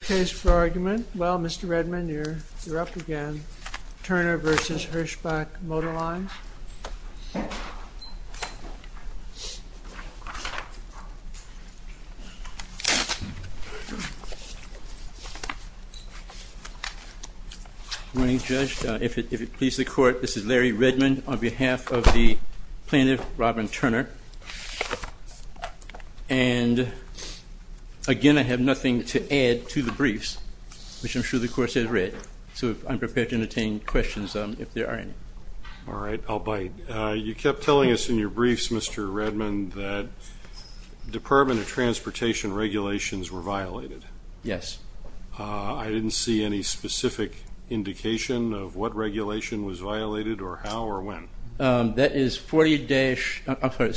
Case for argument, well Mr. Redman, you're up again. Turner v. Hirschbach Motor Lines. Good morning Judge. If it pleases the Court, this is Larry Redman on behalf of the plaintiff, Robin Turner. And again, I have nothing to add to the briefs, which I'm sure the Court has read, so I'm prepared to entertain questions if there are any. All right, I'll bite. You kept telling us in your briefs, Mr. Redman, that Department of Transportation regulations were violated. Yes. I didn't see any specific indication of what regulation was violated or how or when. That is 40 dash, I'm sorry,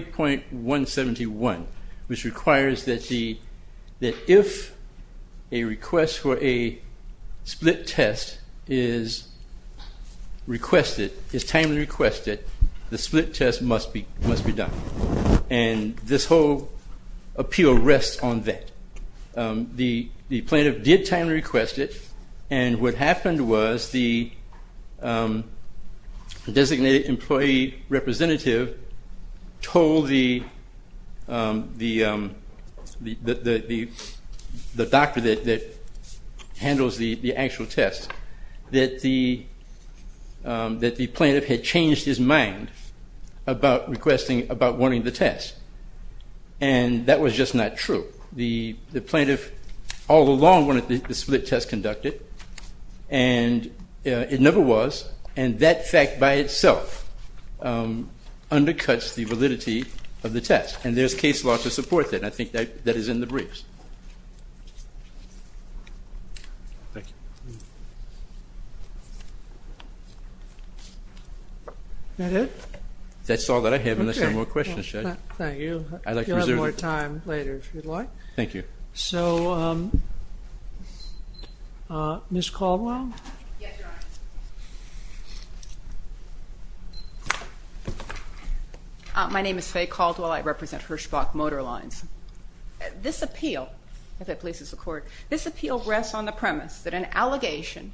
40.171, which requires that if a request for a split test is requested, is timely requested, the split test must be done. And this whole appeal rests on that. The plaintiff did timely request it, and what happened was the designated employee representative told the doctor that handles the actual test that the plaintiff had changed his mind about wanting the test. And that was just not true. The plaintiff all along wanted the split test conducted, and it never was. And that fact by itself undercuts the validity of the test, and there's case law to support that, and I think that is in the briefs. Is that it? That's all that I have unless there are more questions, Judge. Thank you. I'd like to reserve it. You'll have more time later if you'd like. Thank you. So, Ms. Caldwell? Yes, Your Honor. My name is Faye Caldwell. I represent Hirschbach Motor Lines. This appeal, if it pleases the Court, this appeal rests on the premise that an allegation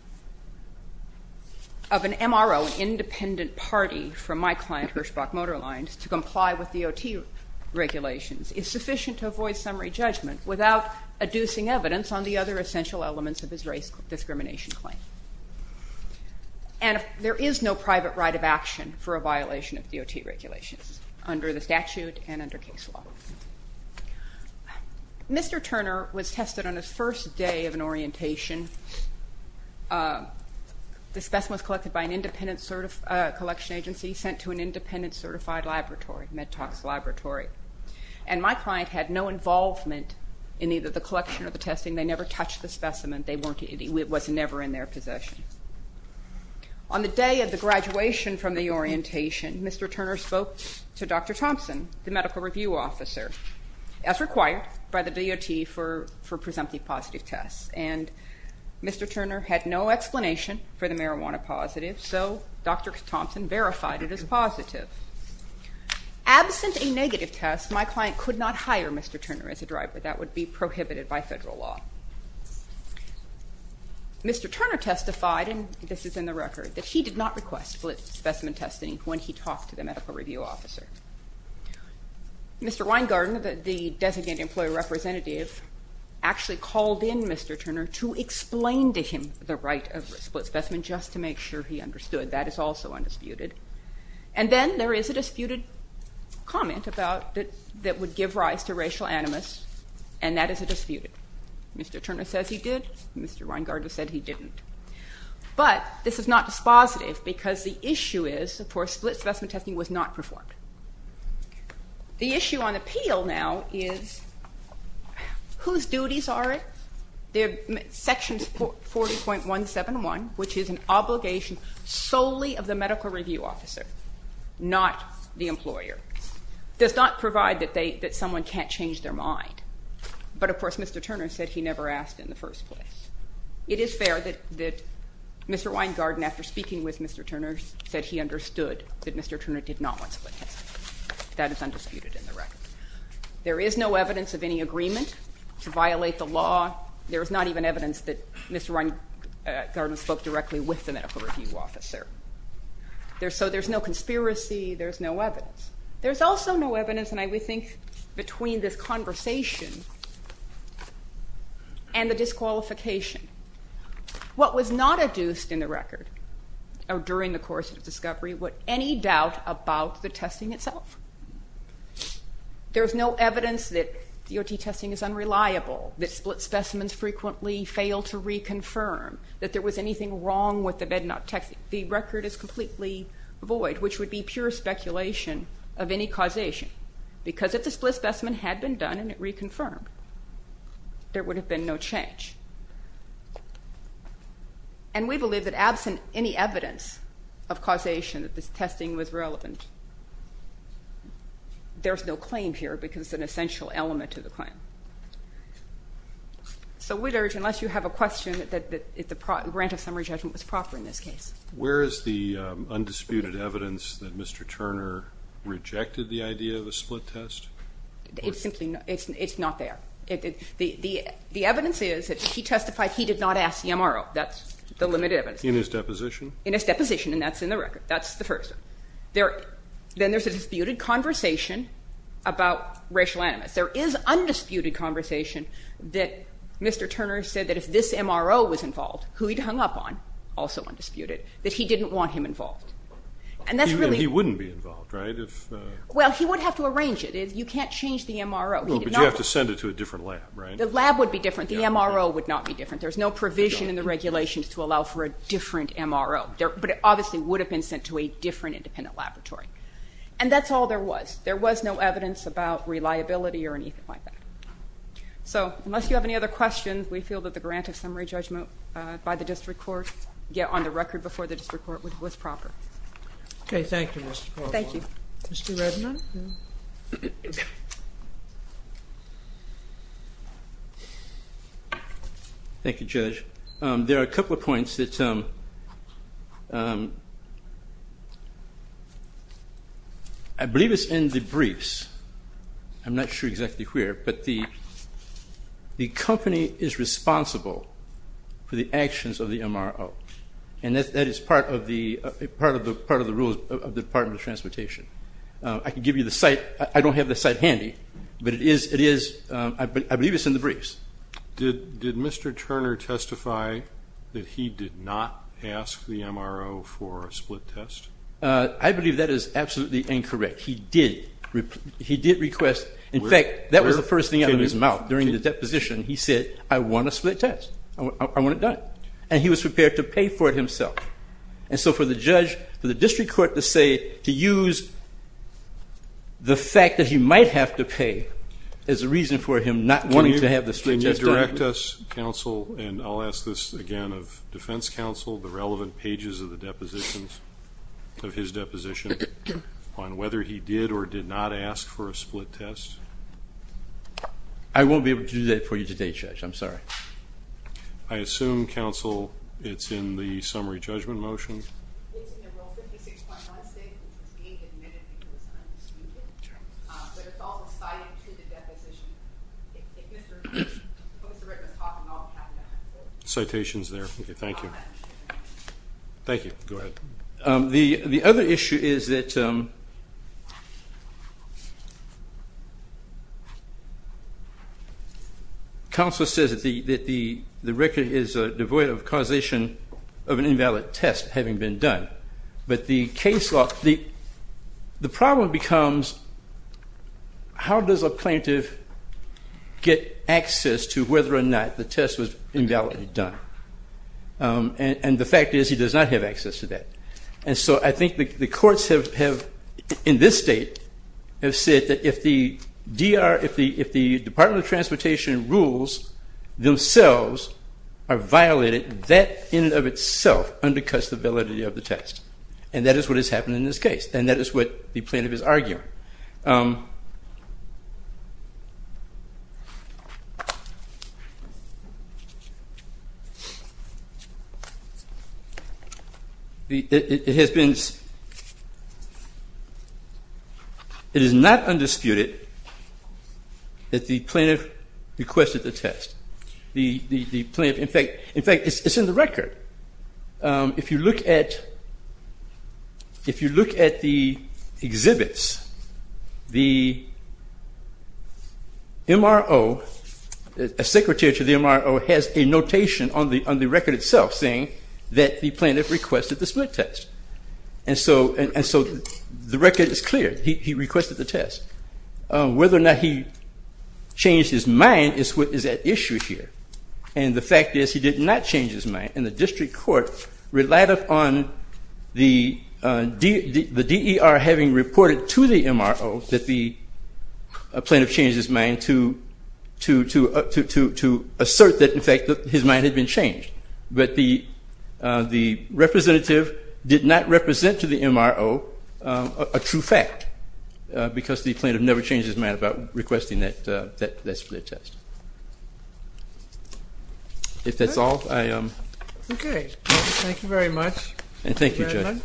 of an MRO independent party from my client, Hirschbach Motor Lines, to comply with DOT regulations is sufficient to avoid summary judgment without adducing evidence on the other essential elements of his race discrimination claim. And there is no private right of action for a violation of DOT regulations under the statute and under case law. Mr. Turner was tested on his first day of an orientation. The specimen was collected by an independent collection agency sent to an independent certified laboratory, MedTOX laboratory. And my client had no involvement in either the collection or the testing. They never touched the specimen. It was never in their possession. On the day of the graduation from the orientation, Mr. Turner spoke to Dr. Thompson, the medical review officer, as required by the DOT for presumptive positive tests. And Mr. Turner had no explanation for the marijuana positive, so Dr. Thompson verified it as positive. Absent a negative test, my client could not hire Mr. Turner as a driver. That would be prohibited by federal law. Mr. Turner testified, and this is in the record, that he did not request split specimen testing when he talked to the medical review officer. Mr. Weingarten, the designate employee representative, actually called in Mr. Turner to explain to him the right of a split specimen just to make sure he understood. That is also undisputed. And then there is a disputed comment about that would give rise to racial animus, and that is a disputed. Mr. Turner says he did. Mr. Weingarten said he didn't. But this is not dispositive because the issue is, of course, split specimen testing was not performed. The issue on appeal now is whose duties are it? Section 40.171, which is an obligation solely of the medical review officer, not the employer, does not provide that someone can't change their mind. But, of course, Mr. Turner said he never asked in the first place. It is fair that Mr. Weingarten, after speaking with Mr. Turner, said he understood that Mr. Turner did not want split testing. That is undisputed in the record. There is no evidence of any agreement to violate the law. There is not even evidence that Mr. Weingarten spoke directly with the medical review officer. So there's no conspiracy. There's no evidence. There's also no evidence, and I would think, between this conversation and the disqualification. What was not adduced in the record during the course of discovery was any doubt about the testing itself. There's no evidence that DOT testing is unreliable, that split specimens frequently fail to reconfirm, that there was anything wrong with the bednot testing. The record is completely void, which would be pure speculation of any causation, because if the split specimen had been done and it reconfirmed, there would have been no change. And we believe that absent any evidence of causation that this testing was relevant, there's no claim here because it's an essential element to the claim. So we'd urge, unless you have a question, that the grant of summary judgment was proper in this case. Where is the undisputed evidence that Mr. Turner rejected the idea of a split test? It's not there. The evidence is that he testified he did not ask the MRO. That's the limited evidence. In his deposition? In his deposition, and that's in the record. That's the first. Then there's a disputed conversation about racial animus. Yes, there is undisputed conversation that Mr. Turner said that if this MRO was involved, who he'd hung up on, also undisputed, that he didn't want him involved. He wouldn't be involved, right? Well, he would have to arrange it. You can't change the MRO. But you have to send it to a different lab, right? The lab would be different. The MRO would not be different. There's no provision in the regulations to allow for a different MRO. But it obviously would have been sent to a different independent laboratory. And that's all there was. There was no evidence about reliability or anything like that. So unless you have any other questions, we feel that the grant of summary judgment by the district court, yet on the record before the district court, was proper. Okay. Thank you, Mr. Paul. Thank you. Mr. Redmond? Thank you, Judge. There are a couple of points that I believe is in the briefs. I'm not sure exactly where. But the company is responsible for the actions of the MRO. And that is part of the rules of the Department of Transportation. I can give you the site. I don't have the site handy. But I believe it's in the briefs. Did Mr. Turner testify that he did not ask the MRO for a split test? I believe that is absolutely incorrect. He did request. In fact, that was the first thing out of his mouth during the deposition. He said, I want a split test. I want it done. And he was prepared to pay for it himself. And so for the judge, for the district court to say, to use the fact that he might have to pay, as a reason for him not wanting to have the split test done. Can you direct us, counsel, and I'll ask this again of defense counsel, the relevant pages of the depositions, of his deposition, on whether he did or did not ask for a split test? I won't be able to do that for you today, Judge. I'm sorry. I assume, counsel, it's in the summary judgment motion. Citation's there. Thank you. Thank you. Go ahead. The other issue is that counsel says that the record is devoid of causation of an invalid test having been done. But the problem becomes, how does a plaintiff get access to whether or not the test was invalidly done? And the fact is he does not have access to that. And so I think the courts have, in this state, have said that if the DR, if the Department of Transportation rules themselves are violated, that in and of itself undercuts the validity of the test. And that is what has happened in this case, and that is what the plaintiff is arguing. It has been, it is not undisputed that the plaintiff requested the test. The plaintiff, in fact, it's in the record. If you look at the exhibits, the MRO, a secretary to the MRO, has a notation on the record itself saying that the plaintiff requested the split test. And so the record is clear. He requested the test. Whether or not he changed his mind is at issue here. And the fact is he did not change his mind, and the district court relied upon the DER having reported to the MRO that the plaintiff changed his mind to assert that, in fact, his mind had been changed. But the representative did not represent to the MRO a true fact, because the plaintiff never changed his mind about requesting that split test. If that's all, I am. Okay. Thank you very much. And thank you, Judge.